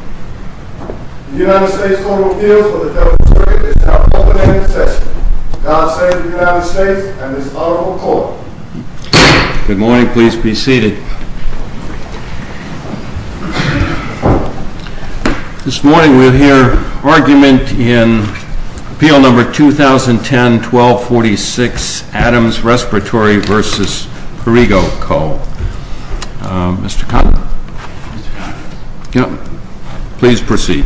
The United States Court of Appeals for the Federal Circuit is now open and in session. God save the United States and this Honorable Court. Good morning. Please be seated. This morning we will hear argument in Appeal No. 2010-1246, Adams Respiratory v. Perrigo Co. Mr. Cotton. Mr. Cotton. Yes. Please proceed.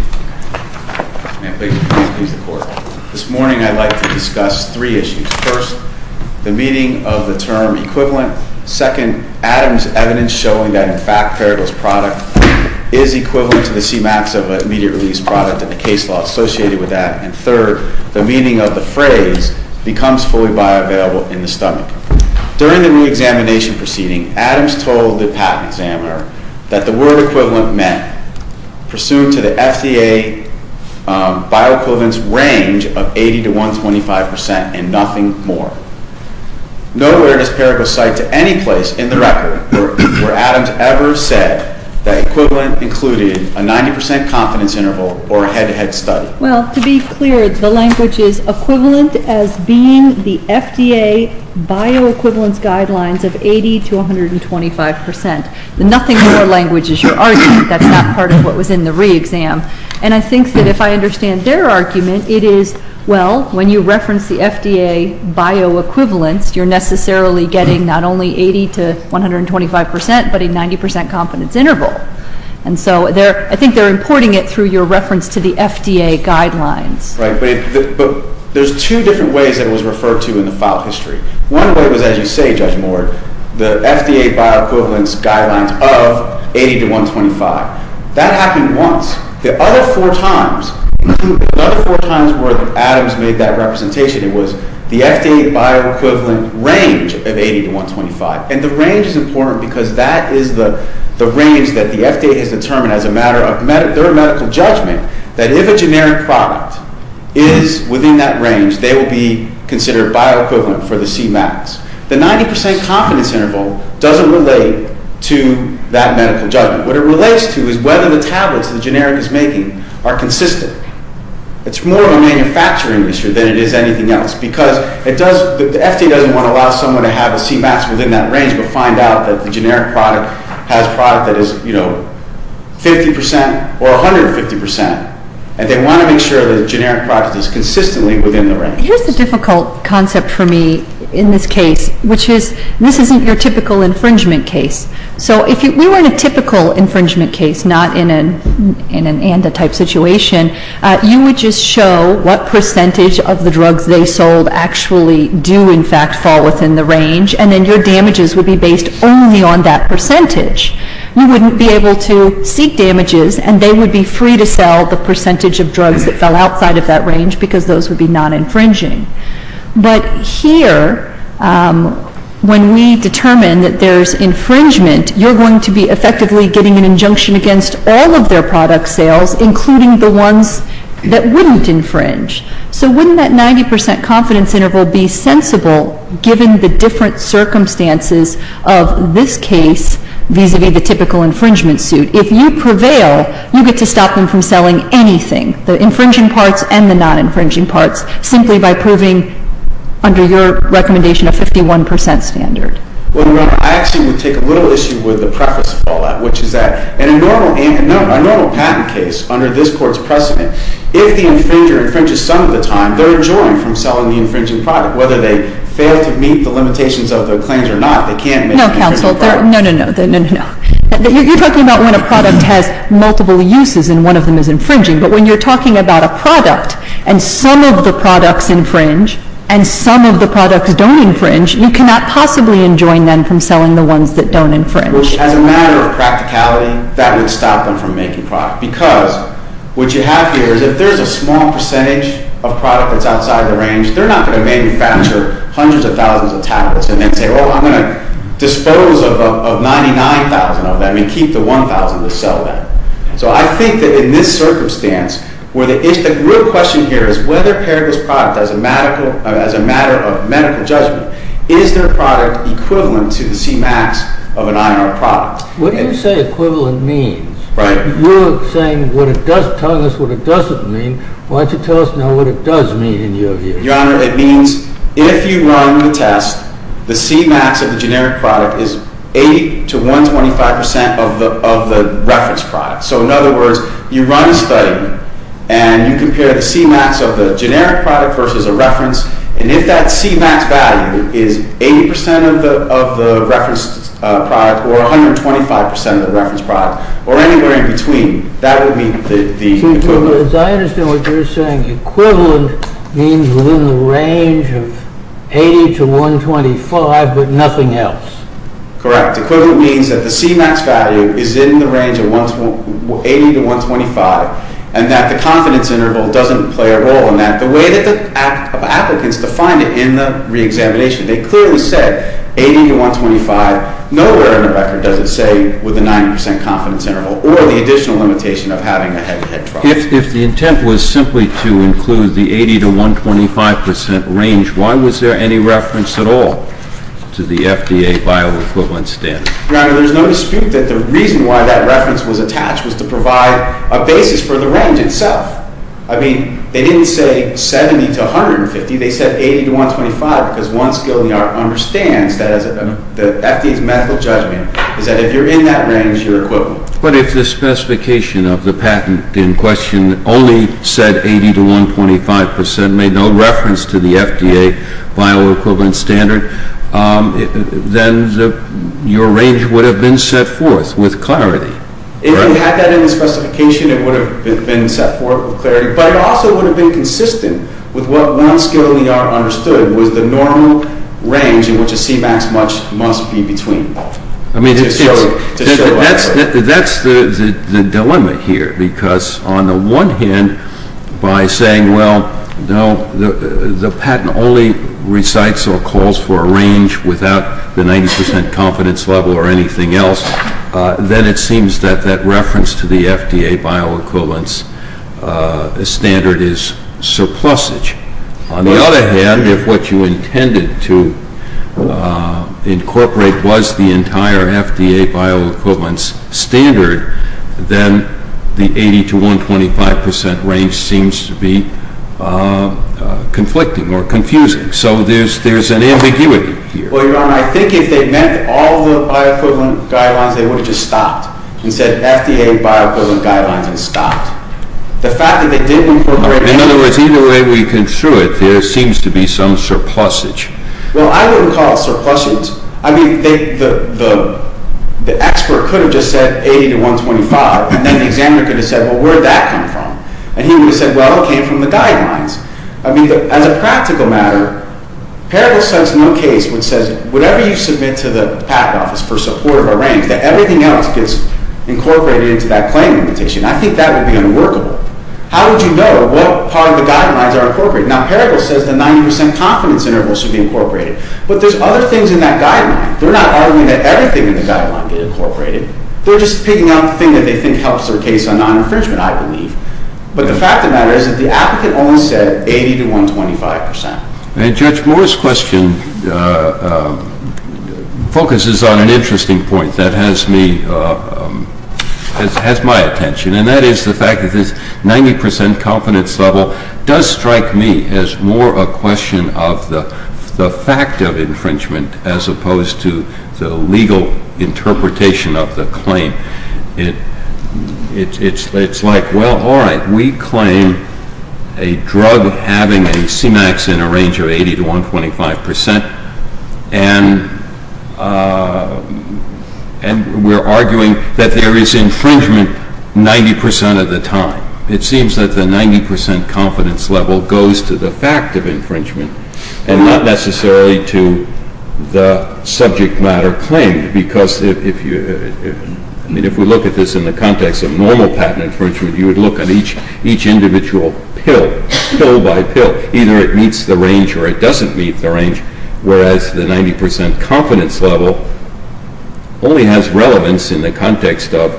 May it please the Court. This morning I'd like to discuss three issues. First, the meaning of the term equivalent. Second, Adams' evidence showing that in fact Perrigo's product is equivalent to the CMAX of an immediate release product and the case law associated with that. And third, the meaning of the phrase becomes fully bioavailable in the stomach. During the reexamination proceeding, Adams told the patent examiner that the word equivalent meant pursuant to the FDA bioequivalence range of 80 to 125 percent and nothing more. Nowhere does Perrigo cite to any place in the record where Adams ever said that equivalent included a 90 percent confidence interval or a head-to-head study. Well, to be clear, the language is equivalent as being the FDA bioequivalence guidelines of 80 to 125 percent. The nothing more language is your argument. That's not part of what was in the reexam. And I think that if I understand their argument, it is, well, when you reference the FDA bioequivalence, you're necessarily getting not only 80 to 125 percent but a 90 percent confidence interval. And so I think they're importing it through your reference to the FDA guidelines. Right, but there's two different ways that it was referred to in the file history. One way was, as you say, Judge Moore, the FDA bioequivalence guidelines of 80 to 125. That happened once. The other four times were that Adams made that representation. It was the FDA bioequivalent range of 80 to 125. And the range is important because that is the range that the FDA has determined as a matter of their medical judgment that if a generic product is within that range, they will be considered bioequivalent for the C-max. The 90 percent confidence interval doesn't relate to that medical judgment. What it relates to is whether the tablets the generic is making are consistent. It's more of a manufacturing issue than it is anything else because the FDA doesn't want to allow someone to have a C-max within that range but find out that the generic product has a product that is, you know, 50 percent or 150 percent. And they want to make sure that the generic product is consistently within the range. Here's the difficult concept for me in this case, which is this isn't your typical infringement case. So if we were in a typical infringement case, not in an ANDA-type situation, you would just show what percentage of the drugs they sold actually do, in fact, fall within the range. And then your damages would be based only on that percentage. You wouldn't be able to seek damages, and they would be free to sell the percentage of drugs that fell outside of that range because those would be non-infringing. But here, when we determine that there's infringement, you're going to be effectively getting an injunction against all of their product sales, including the ones that wouldn't infringe. So wouldn't that 90 percent confidence interval be sensible given the different circumstances of this case vis-à-vis the typical infringement suit? If you prevail, you get to stop them from selling anything, the infringing parts and the non-infringing parts, simply by proving, under your recommendation, a 51 percent standard. Well, Your Honor, I actually would take a little issue with the preface of all that, which is that in a normal patent case under this Court's precedent, if the infringer infringes some of the time, they're enjoying from selling the infringing product. Whether they fail to meet the limitations of their claims or not, they can't make an infringement product. Counsel, no, no, no. You're talking about when a product has multiple uses and one of them is infringing. But when you're talking about a product and some of the products infringe and some of the products don't infringe, you cannot possibly enjoin them from selling the ones that don't infringe. As a matter of practicality, that would stop them from making product because what you have here is if there's a small percentage of product that's outside the range, they're not going to manufacture hundreds of thousands of tablets and then say, oh, I'm going to dispose of 99,000 of them and keep the 1,000 to sell them. So I think that in this circumstance, where the real question here is whether Paraguay's product, as a matter of medical judgment, is their product equivalent to the C-max of an INR product. What do you say equivalent means? Right. You're saying what it does, telling us what it doesn't mean. Why don't you tell us now what it does mean in your view? Your Honor, it means if you run the test, the C-max of the generic product is 80 to 125% of the reference product. So in other words, you run a study and you compare the C-max of the generic product versus a reference. And if that C-max value is 80% of the reference product or 125% of the reference product or anywhere in between, that would be the equivalent. As I understand what you're saying, equivalent means within the range of 80 to 125 but nothing else. Correct. Equivalent means that the C-max value is in the range of 80 to 125 and that the confidence interval doesn't play a role in that. The way that the applicants define it in the reexamination, they clearly said 80 to 125. Nowhere in the record does it say with a 90% confidence interval or the additional limitation of having a head to head trial. If the intent was simply to include the 80 to 125% range, why was there any reference at all to the FDA bioequivalence standard? Your Honor, there's no dispute that the reason why that reference was attached was to provide a basis for the range itself. I mean, they didn't say 70 to 150. They said 80 to 125 because one skill in the art understands that as the FDA's medical judgment is that if you're in that range, you're equivalent. But if the specification of the patent in question only said 80 to 125% made no reference to the FDA bioequivalence standard, then your range would have been set forth with clarity. If you had that in the specification, it would have been set forth with clarity, but it also would have been consistent with what one skill in the art understood was the normal range in which a C-max must be between. I mean, that's the dilemma here because on the one hand, by saying, well, no, the patent only recites or calls for a range without the 90% confidence level or anything else, then it seems that that reference to the FDA bioequivalence standard is surplusage. On the other hand, if what you intended to incorporate was the entire FDA bioequivalence standard, then the 80 to 125% range seems to be conflicting or confusing. So there's an ambiguity here. Well, Your Honor, I think if they meant all the bioequivalent guidelines, they would have just stopped and said FDA bioequivalent guidelines and stopped. In other words, either way we construe it, there seems to be some surplusage. Well, I wouldn't call it surplusage. I mean, the expert could have just said 80 to 125, and then the examiner could have said, well, where did that come from? And he would have said, well, it came from the guidelines. I mean, as a practical matter, Parable sets no case which says whatever you submit to the PAC office for support of a range, that everything else gets incorporated into that claim limitation. I think that would be unworkable. How would you know what part of the guidelines are incorporated? Now, Parable says the 90% confidence interval should be incorporated. But there's other things in that guideline. They're not arguing that everything in the guideline get incorporated. They're just picking out the thing that they think helps their case on non-infringement, I believe. But the fact of the matter is that the applicant only said 80 to 125%. And Judge Moore's question focuses on an interesting point that has my attention, and that is the fact that this 90% confidence level does strike me as more a question of the fact of infringement as opposed to the legal interpretation of the claim. It's like, well, all right, we claim a drug having a CMAX in a range of 80 to 125%, and we're arguing that there is infringement 90% of the time. It seems that the 90% confidence level goes to the fact of infringement and not necessarily to the subject matter claimed, because if we look at this in the context of normal patent infringement, you would look at each individual pill, pill by pill. Either it meets the range or it doesn't meet the range, whereas the 90% confidence level only has relevance in the context of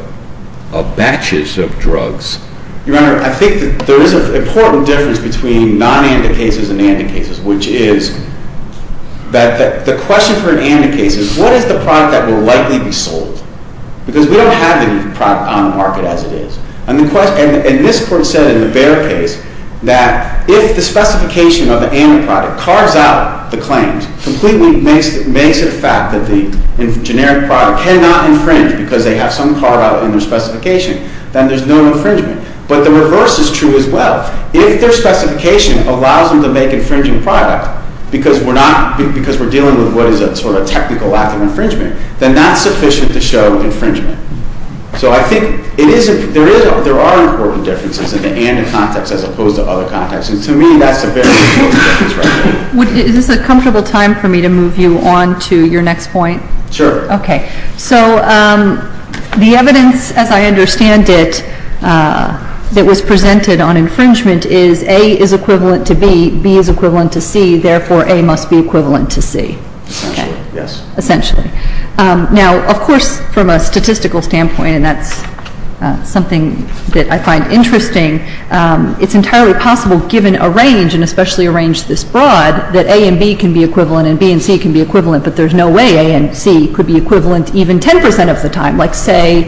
batches of drugs. Your Honor, I think that there is an important difference between non-ANDA cases and ANDA cases, which is that the question for an ANDA case is, what is the product that will likely be sold? Because we don't have any product on the market as it is. And this Court said in the Behr case that if the specification of the ANDA product carves out the claims completely, makes it a fact that the generic product cannot infringe because they have some car out in their specification, then there's no infringement. But the reverse is true as well. If their specification allows them to make infringing product because we're dealing with what is a sort of technical act of infringement, then that's sufficient to show infringement. So I think there are important differences in the ANDA context as opposed to other contexts, and to me that's a very important difference right there. Is this a comfortable time for me to move you on to your next point? Sure. Okay. So the evidence, as I understand it, that was presented on infringement is A is equivalent to B, B is equivalent to C, therefore A must be equivalent to C. Essentially, yes. Essentially. Now, of course, from a statistical standpoint, and that's something that I find interesting, it's entirely possible given a range, and especially a range this broad, that A and B can be equivalent and B and C can be equivalent, but there's no way A and C could be equivalent even 10 percent of the time. Like say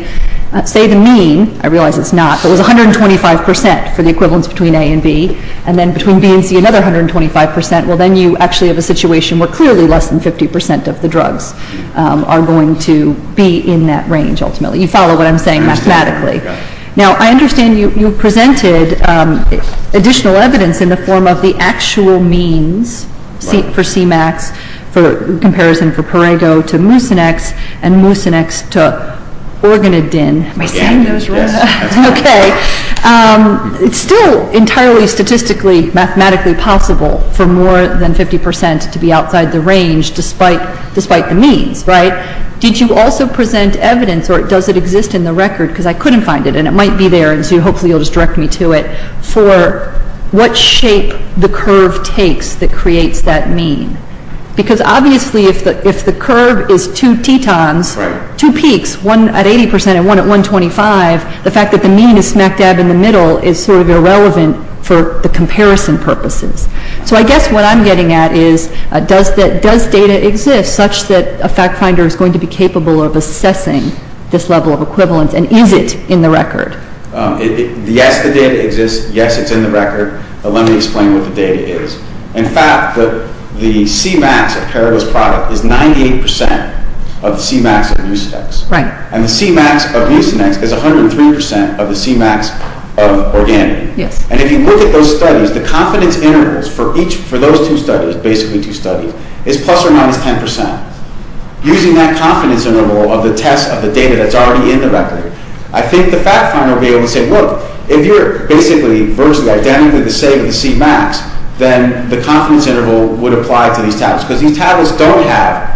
the mean, I realize it's not, but it was 125 percent for the equivalence between A and B, and then between B and C another 125 percent. Well, then you actually have a situation where clearly less than 50 percent of the drugs are going to be in that range ultimately. You follow what I'm saying mathematically. Now, I understand you presented additional evidence in the form of the actual means for CMAX in comparison for Parego to Mucinex and Mucinex to Organadin. Am I saying those right? Yes. Okay. It's still entirely statistically mathematically possible for more than 50 percent to be outside the range despite the means, right? Did you also present evidence, or does it exist in the record, because I couldn't find it and it might be there, and so hopefully you'll just direct me to it, for what shape the curve takes that creates that mean? Because obviously if the curve is two tetons, two peaks, one at 80 percent and one at 125, the fact that the mean is smack dab in the middle is sort of irrelevant for the comparison purposes. So I guess what I'm getting at is does data exist such that a fact finder is going to be capable of assessing this level of equivalence, and is it in the record? Yes, the data exists. Yes, it's in the record. But let me explain what the data is. In fact, the CMAX of Parego's product is 98 percent of the CMAX of Mucinex. Right. And the CMAX of Mucinex is 103 percent of the CMAX of Organadin. Yes. And if you look at those studies, the confidence intervals for those two studies, basically two studies, is plus or minus 10 percent. Using that confidence interval of the test of the data that's already in the record, I think the fact finder will be able to say, look, if you're basically virtually identical to the CMAX, then the confidence interval would apply to these tablets, because these tablets don't have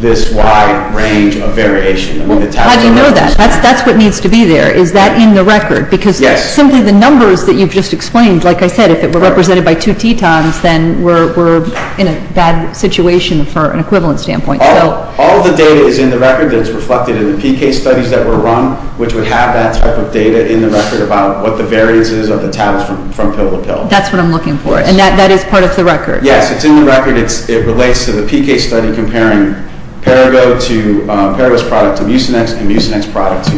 this wide range of variation. How do you know that? That's what needs to be there. Is that in the record? Yes. Because simply the numbers that you've just explained, like I said, if it were represented by two tetons, then we're in a bad situation from an equivalent standpoint. All the data is in the record that's reflected in the PK studies that were run, which would have that type of data in the record about what the variances of the tablets from pill to pill. That's what I'm looking for. And that is part of the record? Yes. It's in the record. It relates to the PK study comparing Parego's product to Mucinex and Mucinex's product to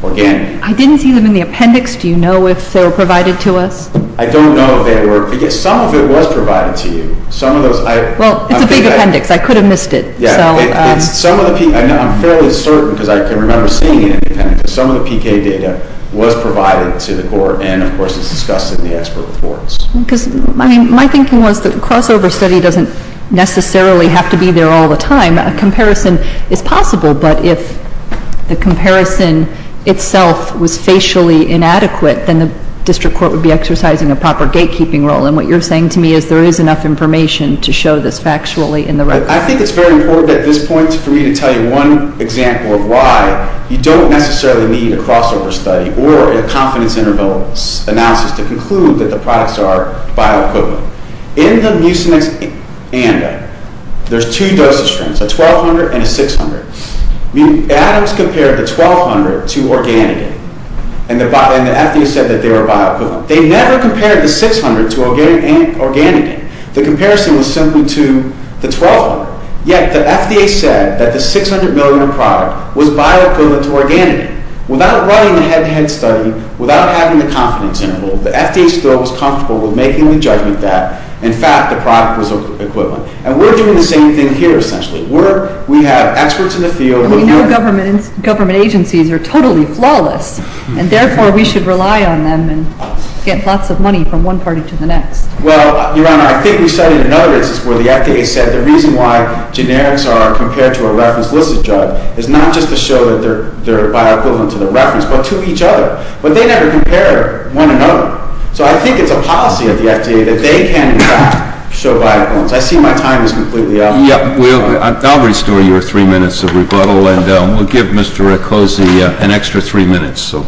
Organadin. I didn't see them in the appendix. Do you know if they were provided to us? I don't know if they were. Some of it was provided to you. Well, it's a big appendix. I could have missed it. I'm fairly certain because I can remember seeing it in the appendix. Some of the PK data was provided to the Court, and, of course, it's discussed in the expert reports. My thinking was that a crossover study doesn't necessarily have to be there all the time. A comparison is possible, but if the comparison itself was facially inadequate, then the district court would be exercising a proper gatekeeping role. And what you're saying to me is there is enough information to show this factually in the record. I think it's very important at this point for me to tell you one example of why you don't necessarily need a crossover study or a confidence interval analysis to conclude that the products are bioequivalent. In the Mucinex ANDA, there's two dosage trends, a 1,200 and a 600. Adams compared the 1,200 to organogen, and the FDA said that they were bioequivalent. They never compared the 600 to organogen. The comparison was simply to the 1,200. Yet the FDA said that the 600-million-dollar product was bioequivalent to organogen. Without running the head-to-head study, without having the confidence interval, the FDA still was comfortable with making the judgment that, in fact, the product was equivalent. And we're doing the same thing here, essentially. We have experts in the field. And we know government agencies are totally flawless, and therefore we should rely on them and get lots of money from one party to the next. Well, Your Honor, I think we studied another instance where the FDA said the reason why generics are compared to a reference-licit drug is not just to show that they're bioequivalent to the reference, but to each other. But they never compare one another. So I think it's a policy of the FDA that they can, in fact, show bioequivalence. I see my time is completely up. Yeah. I'll restore your three minutes of rebuttal, and we'll give Mr. Riccozzi an extra three minutes. So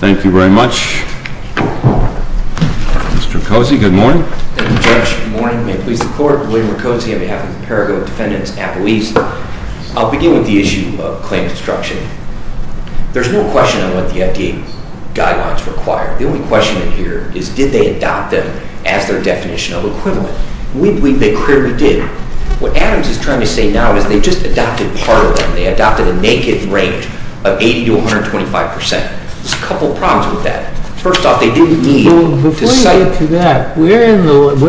thank you very much. Mr. Riccozzi, good morning. Thank you, Judge. Good morning. May it please the Court. William Riccozzi on behalf of the Paraguay Defendants Appellees. I'll begin with the issue of claim destruction. There's no question on what the FDA guidelines require. The only question in here is did they adopt them as their definition of equivalent? We believe they clearly did. What Adams is trying to say now is they just adopted part of them. They adopted a naked rate of 80% to 125%. There's a couple problems with that. First off, they didn't need to cite— Before you get to that, where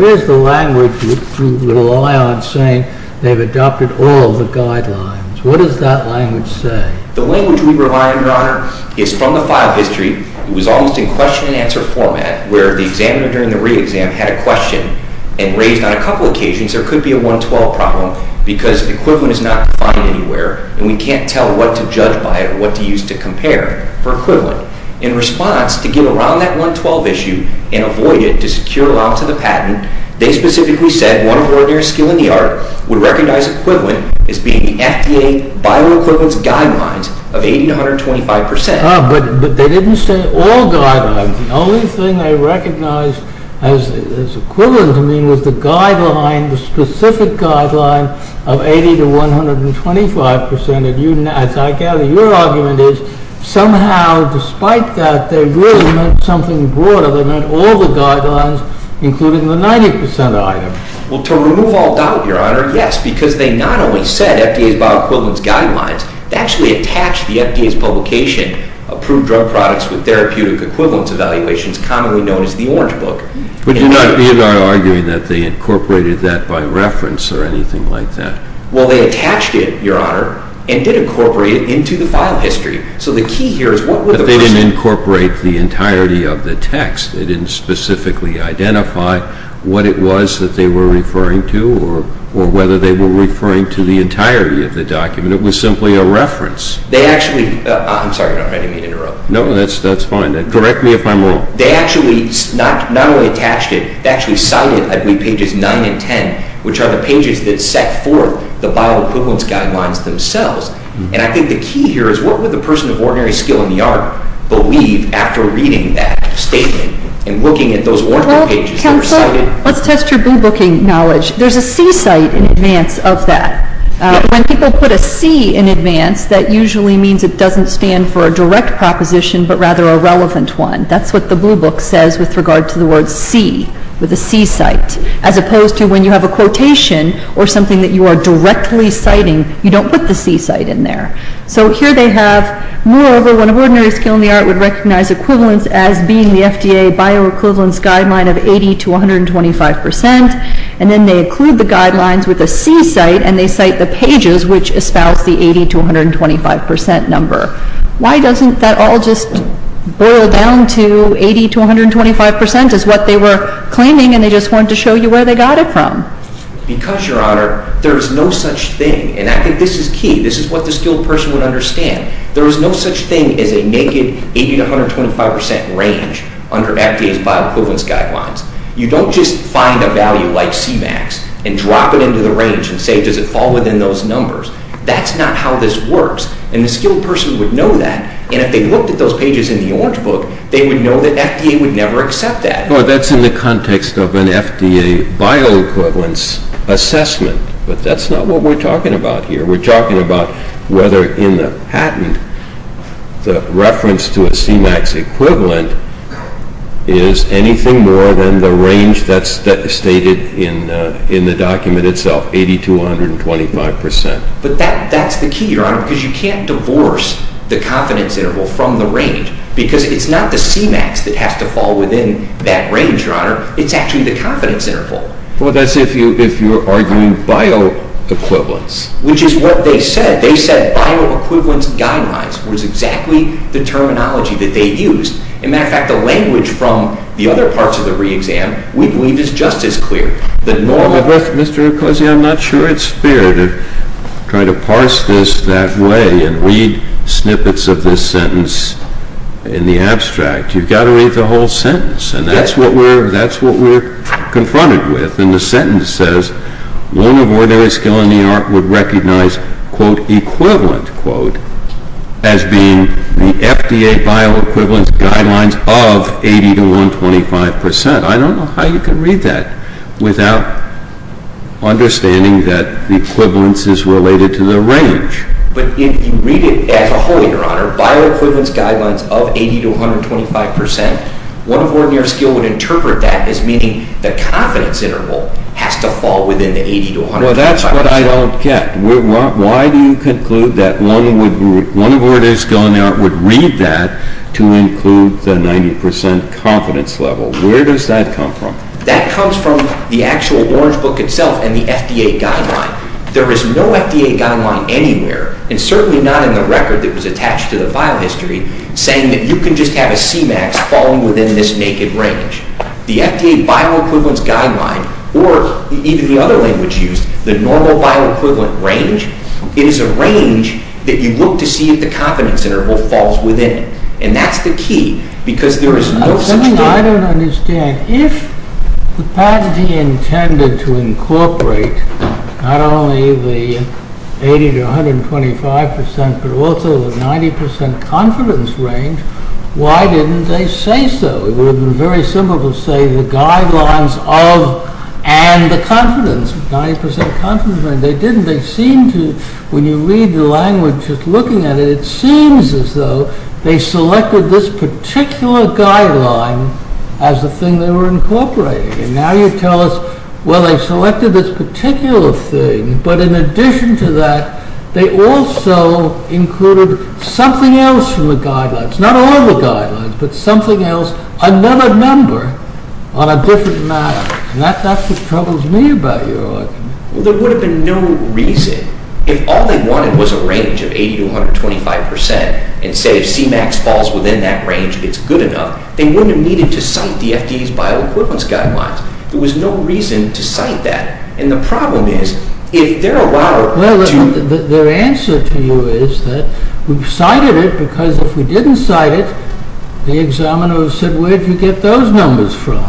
is the language you rely on saying they've adopted all the guidelines? What does that language say? The language we rely on, Your Honor, is from the file history. It was almost in question-and-answer format, where the examiner during the re-exam had a question and raised on a couple occasions there could be a 112 problem because equivalent is not defined anywhere and we can't tell what to judge by or what to use to compare for equivalent. In response, to get around that 112 issue and avoid it, to secure allowance of the patent, they specifically said one ordinary skill in the art would recognize equivalent as being the FDA bioequivalence guidelines of 80% to 125%. But they didn't say all guidelines. The only thing they recognized as equivalent to me was the guideline, the specific guideline of 80% to 125%. As I gather, your argument is somehow, despite that, they really meant something broader. They meant all the guidelines, including the 90% item. Well, to remove all doubt, Your Honor, yes, because they not only said FDA's bioequivalence guidelines, they actually attached the FDA's publication, Approved Drug Products with Therapeutic Equivalence Evaluations, commonly known as the Orange Book. But you're not arguing that they incorporated that by reference or anything like that. Well, they attached it, Your Honor, and did incorporate it into the file history. So the key here is what would the person... But they didn't incorporate the entirety of the text. They didn't specifically identify what it was that they were referring to or whether they were referring to the entirety of the document. It was simply a reference. They actually... I'm sorry, Your Honor, I didn't mean to interrupt. No, that's fine. Direct me if I'm wrong. They actually not only attached it, they actually cited, I believe, pages 9 and 10, which are the pages that set forth the bioequivalence guidelines themselves. And I think the key here is what would the person of ordinary skill in the art believe after reading that statement and looking at those Orange Book pages that were cited? Well, counsel, let's test your boo-booking knowledge. There's a C-site in advance of that. When people put a C in advance, that usually means it doesn't stand for a direct proposition but rather a relevant one. That's what the blue book says with regard to the word C, with a C-site, as opposed to when you have a quotation or something that you are directly citing, you don't put the C-site in there. So here they have, moreover, one of ordinary skill in the art would recognize equivalence as being the FDA bioequivalence guideline of 80 to 125 percent, and then they include the guidelines with a C-site and they cite the pages which espouse the 80 to 125 percent number. Why doesn't that all just boil down to 80 to 125 percent as what they were claiming and they just wanted to show you where they got it from? Because, Your Honor, there is no such thing, and I think this is key. This is what the skilled person would understand. There is no such thing as a naked 80 to 125 percent range under FDA's bioequivalence guidelines. You don't just find a value like C-max and drop it into the range and say, does it fall within those numbers? That's not how this works, and the skilled person would know that, and if they looked at those pages in the orange book, they would know that FDA would never accept that. Well, that's in the context of an FDA bioequivalence assessment, but that's not what we're talking about here. We're talking about whether in the patent, the reference to a C-max equivalent is anything more than the range that's stated in the document itself, 80 to 125 percent. But that's the key, Your Honor, because you can't divorce the confidence interval from the range because it's not the C-max that has to fall within that range, Your Honor. It's actually the confidence interval. Well, that's if you're arguing bioequivalence. Which is what they said. They said bioequivalence guidelines was exactly the terminology that they used. As a matter of fact, the language from the other parts of the reexam we believe is just as clear. Mr. Ecclesi, I'm not sure it's fair to try to parse this that way and read snippets of this sentence in the abstract. You've got to read the whole sentence, and that's what we're confronted with. And the sentence says, one of ordinary skill in the art would recognize, quote, equivalent, quote, as being the FDA bioequivalence guidelines of 80 to 125 percent. I don't know how you can read that without understanding that the equivalence is related to the range. But if you read it as a whole, Your Honor, bioequivalence guidelines of 80 to 125 percent, one of ordinary skill would interpret that as meaning the confidence interval has to fall within the 80 to 125 percent. Well, that's what I don't get. Why do you conclude that one of ordinary skill in the art would read that to include the 90 percent confidence level? Where does that come from? That comes from the actual Orange Book itself and the FDA guideline. There is no FDA guideline anywhere, and certainly not in the record that was attached to the file history, saying that you can just have a C-max falling within this naked range. The FDA bioequivalence guideline, or even the other language used, the normal bioequivalent range, it is a range that you look to see if the confidence interval falls within. And that's the key, because there is no such thing. I don't understand. If the patentee intended to incorporate not only the 80 to 125 percent, but also the 90 percent confidence range, why didn't they say so? It would have been very simple to say the guidelines of and the confidence, 90 percent confidence range. They didn't. They seem to, when you read the language, just looking at it, it seems as though they selected this particular guideline as the thing they were incorporating. And now you tell us, well, they selected this particular thing, but in addition to that, they also included something else from the guidelines. Not all the guidelines, but something else, another number on a different matter. That's what troubles me about your argument. There would have been no reason, if all they wanted was a range of 80 to 125 percent, and say C-max falls within that range, it's good enough, they wouldn't have needed to cite the FDA's bioequivalence guidelines. There was no reason to cite that. And the problem is, if they're allowed to... Well, their answer to you is that we've cited it, because if we didn't cite it, the examiner would have said, where did you get those numbers from?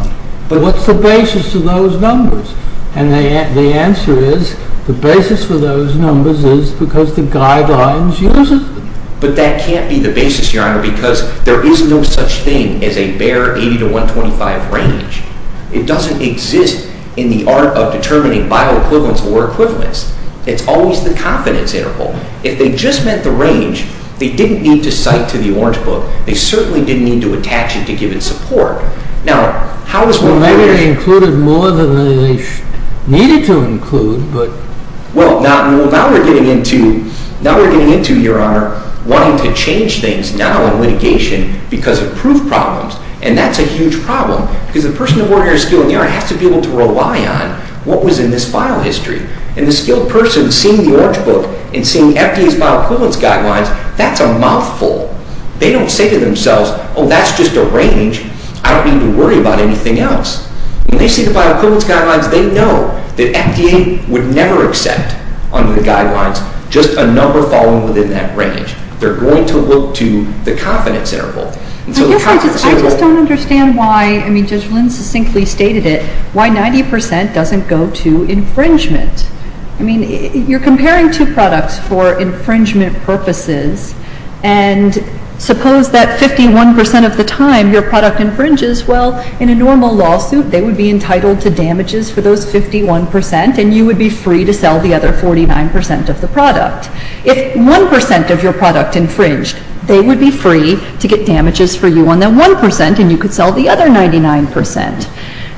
But what's the basis of those numbers? And the answer is, the basis for those numbers is because the guidelines use it. But that can't be the basis, Your Honor, because there is no such thing as a bare 80 to 125 range. It doesn't exist in the art of determining bioequivalence or equivalence. It's always the confidence interval. If they just meant the range, they didn't need to cite to the Orange Book. They certainly didn't need to attach it to give it support. Now, how does one... Well, maybe they included more than they needed to include, but... Well, now we're getting into, Your Honor, wanting to change things now in litigation because of proof problems. And that's a huge problem, because the person of ordinary skill in the art has to be able to rely on what was in this file history. And the skilled person seeing the Orange Book and seeing FDA's bioequivalence guidelines, that's a mouthful. They don't say to themselves, oh, that's just a range. I don't need to worry about anything else. When they see the bioequivalence guidelines, they know that FDA would never accept under the guidelines just a number falling within that range. They're going to look to the confidence interval. And so the confidence interval... I guess I just don't understand why... I mean, Judge Lynn succinctly stated it, why 90% doesn't go to infringement. I mean, you're comparing two products for infringement purposes, and suppose that 51% of the time your product infringes. Well, in a normal lawsuit, they would be entitled to damages for those 51%, and you would be free to sell the other 49% of the product. If 1% of your product infringed, they would be free to get damages for you on that 1%, and you could sell the other 99%.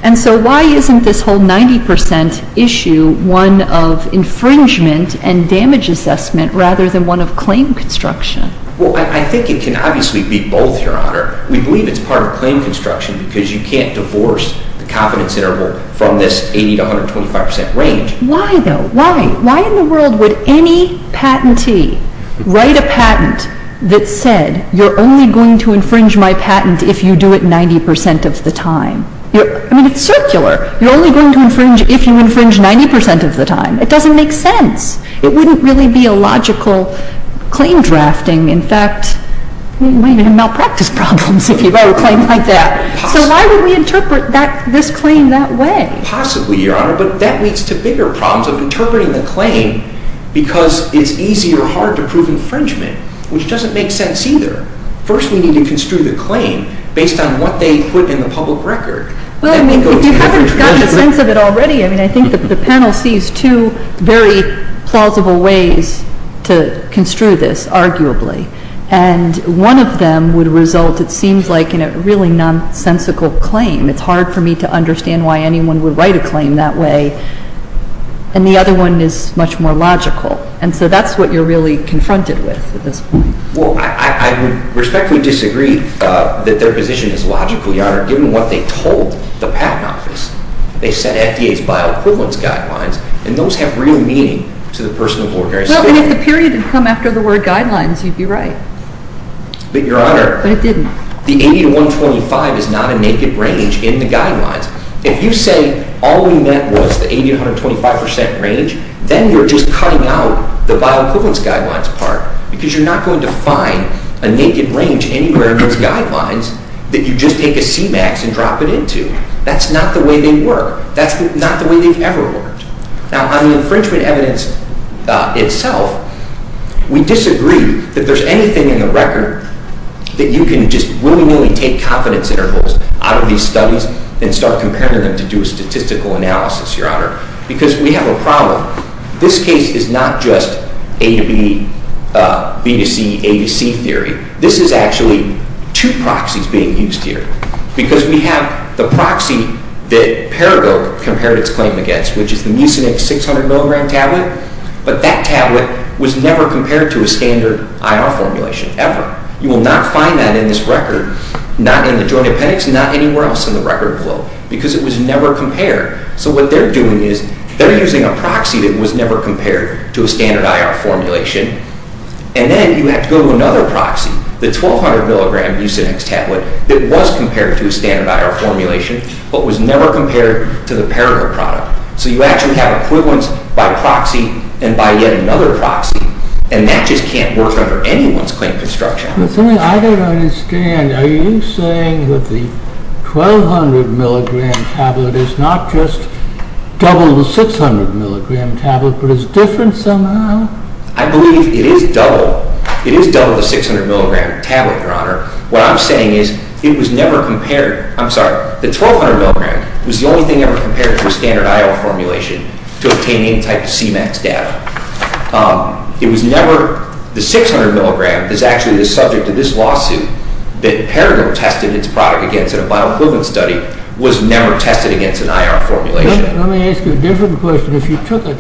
And so why isn't this whole 90% issue one of infringement and damage assessment rather than one of claim construction? Well, I think it can obviously be both, Your Honor. We believe it's part of claim construction because you can't divorce the confidence interval from this 80% to 125% range. Why, though? Why? Why in the world would any patentee write a patent that said you're only going to infringe my patent if you do it 90% of the time? I mean, it's circular. You're only going to infringe if you infringe 90% of the time. It doesn't make sense. It wouldn't really be a logical claim drafting. In fact, you might even malpractice problems if you write a claim like that. So why would we interpret this claim that way? Possibly, Your Honor. But that leads to bigger problems of interpreting the claim because it's easy or hard to prove infringement, which doesn't make sense either. First, we need to construe the claim based on what they put in the public record. Well, I mean, if you haven't gotten a sense of it already, I mean, I think that the panel sees two very plausible ways to construe this, arguably. And one of them would result, it seems like, in a really nonsensical claim. It's hard for me to understand why anyone would write a claim that way. And the other one is much more logical. And so that's what you're really confronted with at this point. Well, I would respectfully disagree that their position is logical, Your Honor, given what they told the Patent Office. They said FDA's bioequivalence guidelines, and those have real meaning to the person of ordinary state. Well, and if the period had come after the word guidelines, you'd be right. But, Your Honor, the 80 to 125 is not a naked range in the guidelines. If you say all we meant was the 80 to 125% range, then you're just cutting out the bioequivalence guidelines part because you're not going to find a naked range anywhere in those guidelines that you just take a CMAX and drop it into. That's not the way they work. That's not the way they've ever worked. Now, on the infringement evidence itself, we disagree that there's anything in the record that you can just willy-nilly take confidence intervals out of these studies and start comparing them to do a statistical analysis, Your Honor, because we have a problem. This case is not just A to B, B to C, A to C theory. This is actually two proxies being used here because we have the proxy that Paradoke compared its claim against, which is the Mucinex 600-milligram tablet, but that tablet was never compared to a standard IR formulation, ever. You will not find that in this record, not in the joint appendix, not anywhere else in the record flow, because it was never compared. So what they're doing is they're using a proxy that was never compared to a standard IR formulation, and then you have to go to another proxy, the 1,200-milligram Mucinex tablet that was compared to a standard IR formulation but was never compared to the Paradoke product. So you actually have equivalents by proxy and by yet another proxy, and that just can't work under anyone's claim construction. I don't understand. Are you saying that the 1,200-milligram tablet is not just double the 600-milligram tablet but is different somehow? I believe it is double. It is double the 600-milligram tablet, Your Honor. What I'm saying is it was never compared. I'm sorry, the 1,200-milligram was the only thing ever compared to a standard IR formulation to obtain any type of CMAX data. It was never... The 600-milligram is actually the subject of this lawsuit that Paradoke tested its product against in a bioequivalence study was never tested against an IR formulation. Let me ask you a different question. If you took a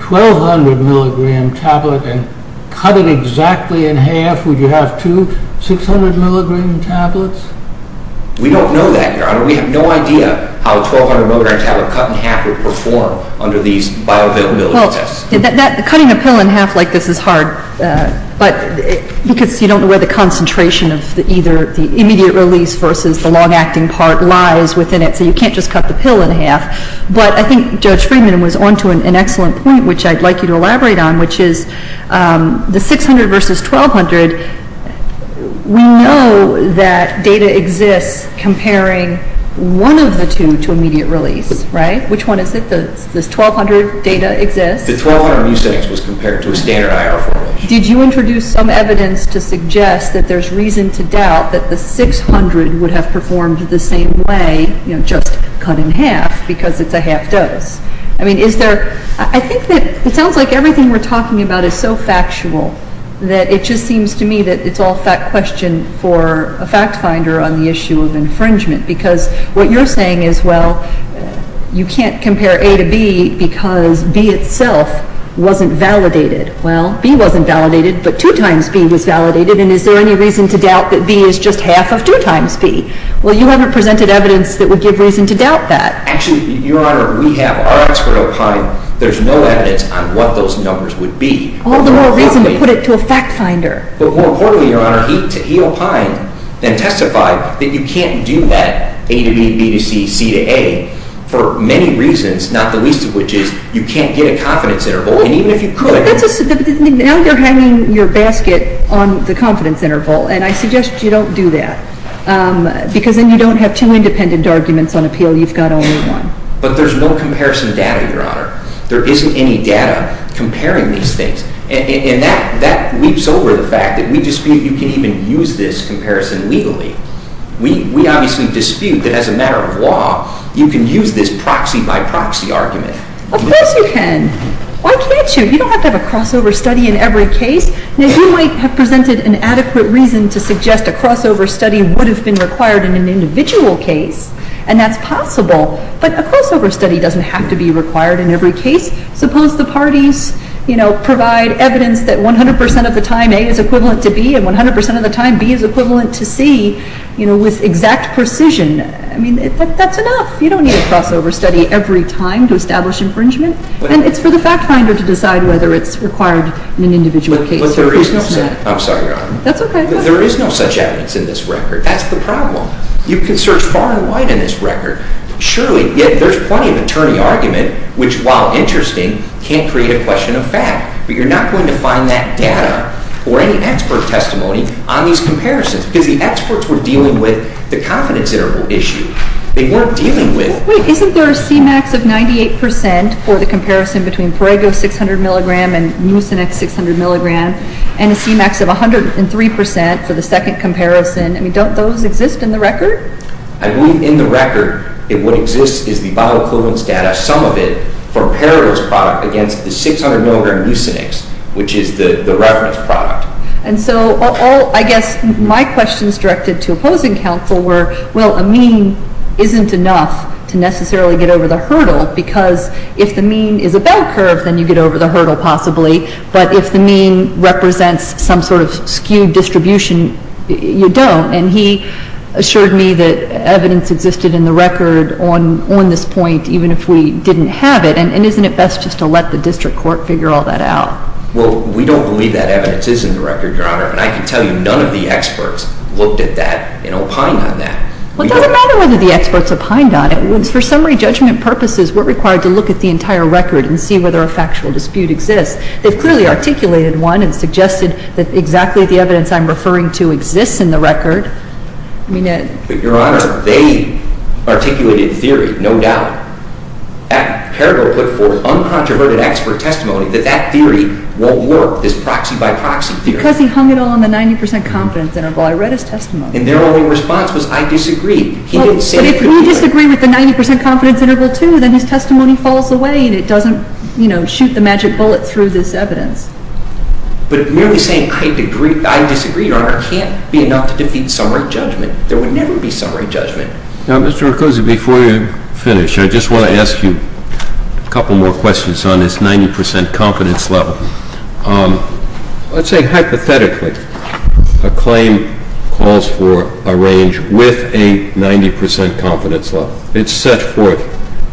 1,200-milligram tablet and cut it exactly in half, would you have two 600-milligram tablets? We don't know that, Your Honor. We have no idea how a 1,200-milligram tablet cut in half would perform under these bioavailability tests. Cutting a pill in half like this is hard because you don't know where the concentration of either the immediate release versus the long-acting part lies within it, so you can't just cut the pill in half. But I think Judge Friedman was on to an excellent point, which I'd like you to elaborate on, which is the 600 versus 1,200, we know that data exists comparing one of the two to immediate release, right? Which one is it? The 1,200 data exists? The 1,200 mucin was compared to a standard IR formulation. Did you introduce some evidence to suggest that there's reason to doubt that the 600 would have performed the same way, you know, just cut in half because it's a half-dose? I mean, is there... I think that it sounds like everything we're talking about is so factual that it just seems to me that it's all fact question for a fact-finder on the issue of infringement because what you're saying is, well, you can't compare A to B because B itself wasn't validated. Well, B wasn't validated, but 2 times B was validated, and is there any reason to doubt that B is just half of 2 times B? Well, you haven't presented evidence that would give reason to doubt that. Actually, Your Honor, we have our expert opinion. There's no evidence on what those numbers would be. All the more reason to put it to a fact-finder. But more importantly, Your Honor, E.O. Pine then testified that you can't do that A to B, B to C, C to A for many reasons, not the least of which is you can't get a confidence interval, and even if you could... Now you're hanging your basket on the confidence interval, and I suggest you don't do that because then you don't have two independent arguments on appeal. You've got only one. But there's no comparison data, Your Honor. There isn't any data comparing these things. And that weeps over the fact that we dispute you can even use this comparison legally. We obviously dispute that as a matter of law, you can use this proxy-by-proxy argument. Of course you can. Why can't you? You don't have to have a crossover study in every case. Now, you might have presented an adequate reason to suggest a crossover study would have been required in an individual case, and that's possible, but a crossover study doesn't have to be required in every case. Suppose the parties provide evidence that 100% of the time A is equivalent to B, and 100% of the time B is equivalent to C with exact precision. I mean, that's enough. You don't need a crossover study every time to establish infringement. And it's for the fact finder to decide whether it's required in an individual case. But there is no such evidence in this record. That's the problem. You can search far and wide in this record. Surely, there's plenty of attorney argument, which, while interesting, can't create a question of fact. But you're not going to find that data or any expert testimony on these comparisons because the experts were dealing with the confidence interval issue. They weren't dealing with... Wait, isn't there a C-max of 98% for the comparison between Parego's 600-milligram and Mucinec's 600-milligram, and a C-max of 103% for the second comparison? I mean, don't those exist in the record? I believe in the record, what exists is the bioequivalence data, some of it, for Parego's product against the 600-milligram Mucinec's, which is the reference product. And so all, I guess, my questions directed to opposing counsel were, well, a mean isn't enough to necessarily get over the hurdle because if the mean is a bell curve, then you get over the hurdle, possibly. But if the mean represents some sort of skewed distribution, you don't. And he assured me that evidence existed in the record on this point, even if we didn't have it, and isn't it best just to let the district court figure all that out? Well, we don't believe that evidence is in the record, Your Honor, and I can tell you none of the experts looked at that and opined on that. Well, it doesn't matter whether the experts opined on it. For summary judgment purposes, we're required to look at the entire record and see whether a factual dispute exists. They've clearly articulated one and suggested that exactly the evidence I'm referring to exists in the record. But, Your Honor, they articulated theory, no doubt. Peridot put forth uncontroverted expert testimony that that theory won't work, this proxy-by-proxy theory. Because he hung it all on the 90% confidence interval. I read his testimony. And their only response was, I disagree. He didn't say anything. But if you disagree with the 90% confidence interval, too, then his testimony falls away and it doesn't, you know, shoot the magic bullet through this evidence. But merely saying, I disagree, Your Honor, can't be enough to defeat summary judgment. There would never be summary judgment. Now, Mr. Rucuzzi, before you finish, I just want to ask you a couple more questions on this 90% confidence level. Let's say, hypothetically, a claim calls for a range with a 90% confidence level. It's set forth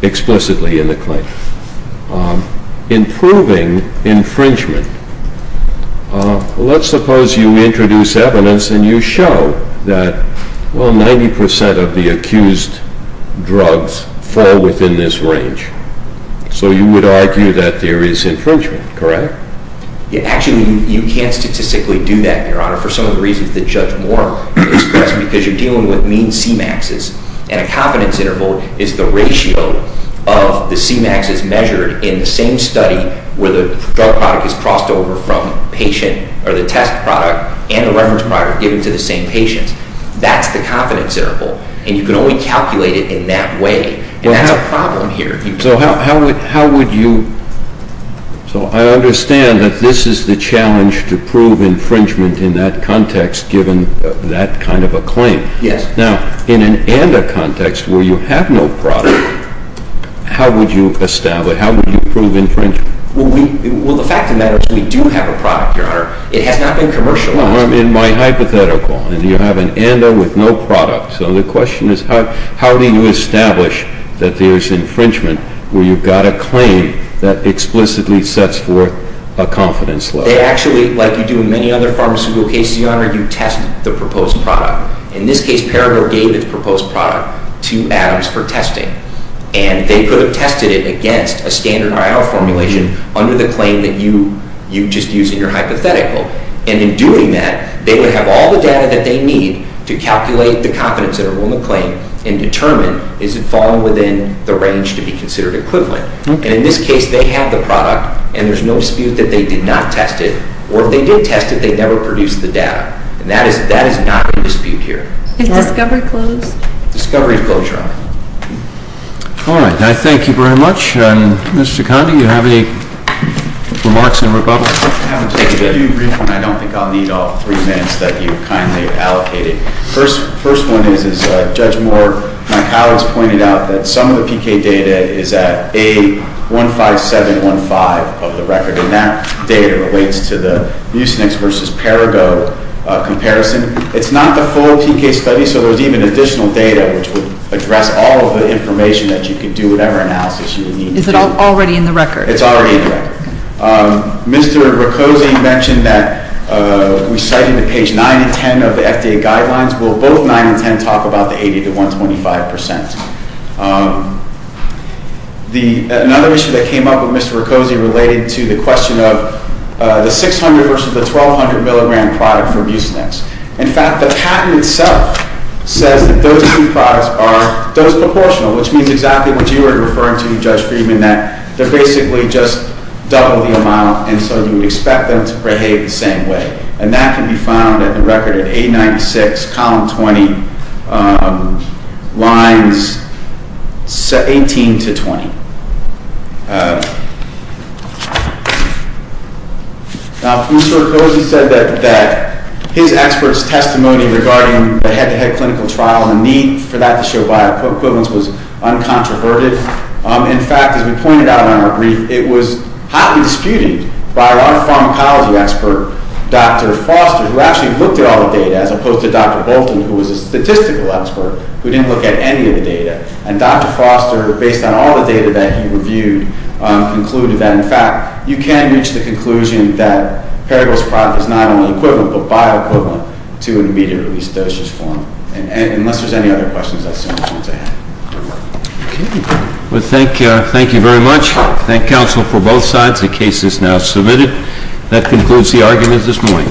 explicitly in the claim. Improving infringement. Let's suppose you introduce evidence and you show that, well, 90% of the accused drugs fall within this range. So you would argue that there is infringement, correct? Actually, you can't statistically do that, Your Honor, for some of the reasons that Judge Moore expressed, because you're dealing with mean CMAXs, and a confidence interval is the ratio of the CMAXs measured in the same study where the drug product is crossed over from patient, or the test product and the reference product given to the same patient. That's the confidence interval. And you can only calculate it in that way. And that's a problem here. So how would you... So I understand that this is the challenge to prove infringement in that context, given that kind of a claim. Yes. Now, in an ANDA context, where you have no product, how would you establish, how would you prove infringement? Well, the fact of the matter is, we do have a product, Your Honor. It has not been commercialized. Well, I mean, my hypothetical. You have an ANDA with no product. So the question is, how do you establish that there is infringement where you've got a claim that explicitly sets forth a confidence level? Actually, like you do in many other pharmaceutical cases, Your Honor, you test the proposed product. In this case, Parable gave its proposed product to Adams for testing. And they could have tested it against a standard IR formulation under the claim that you just used in your hypothetical. And in doing that, they would have all the data that they need to calculate the confidence interval in the claim and determine, is it falling within the range to be considered equivalent? And in this case, they have the product, and there's no dispute that they did not test it. Or if they did test it, they never produced the data. And that is not in dispute here. Is discovery closed? Discovery is closed, Your Honor. All right. I thank you very much. Mr. Condi, do you have any remarks in rebuttal? I haven't taken any brief, and I don't think I'll need all three minutes that you've kindly allocated. First one is, as Judge Moore and my colleagues pointed out, that some of the PK data is at A15715 of the record, and that data relates to the Mucinix v. Perrigo comparison. It's not the full PK study, so there's even additional data which would address all of the information that you could do whatever analysis you would need. Is it already in the record? It's already in the record. Mr. Riccozzi mentioned that we cited at page 9 and 10 of the FDA guidelines. Will both 9 and 10 talk about the 80 to 125 percent? Another issue that came up with Mr. Riccozzi related to the question of the 600 versus the 1,200 milligram product for Mucinix. In fact, the patent itself says that those two products are dose proportional, which means exactly what you were referring to, Judge Friedman, that they're basically just double the amount, and so you would expect them to behave the same way. And that can be found at the record at 896, column 20, lines 18 to 20. Now, Mr. Riccozzi said that his expert's testimony regarding the head-to-head clinical trial and the need for that to show bioequivalence was uncontroverted. In fact, as we pointed out in our brief, it was highly disputed by our pharmacology expert, Dr. Foster, who actually looked at all the data as opposed to Dr. Bolton, who was a statistical expert who didn't look at any of the data. And Dr. Foster, based on all the data that he reviewed, concluded that, in fact, you can reach the conclusion that Paragol's product is not only equivalent but bioequivalent to an immediate-release dosage form, unless there's any other questions. That's all I have. Okay. Well, thank you very much. I thank counsel for both sides. The case is now submitted. That concludes the arguments this morning. All rise.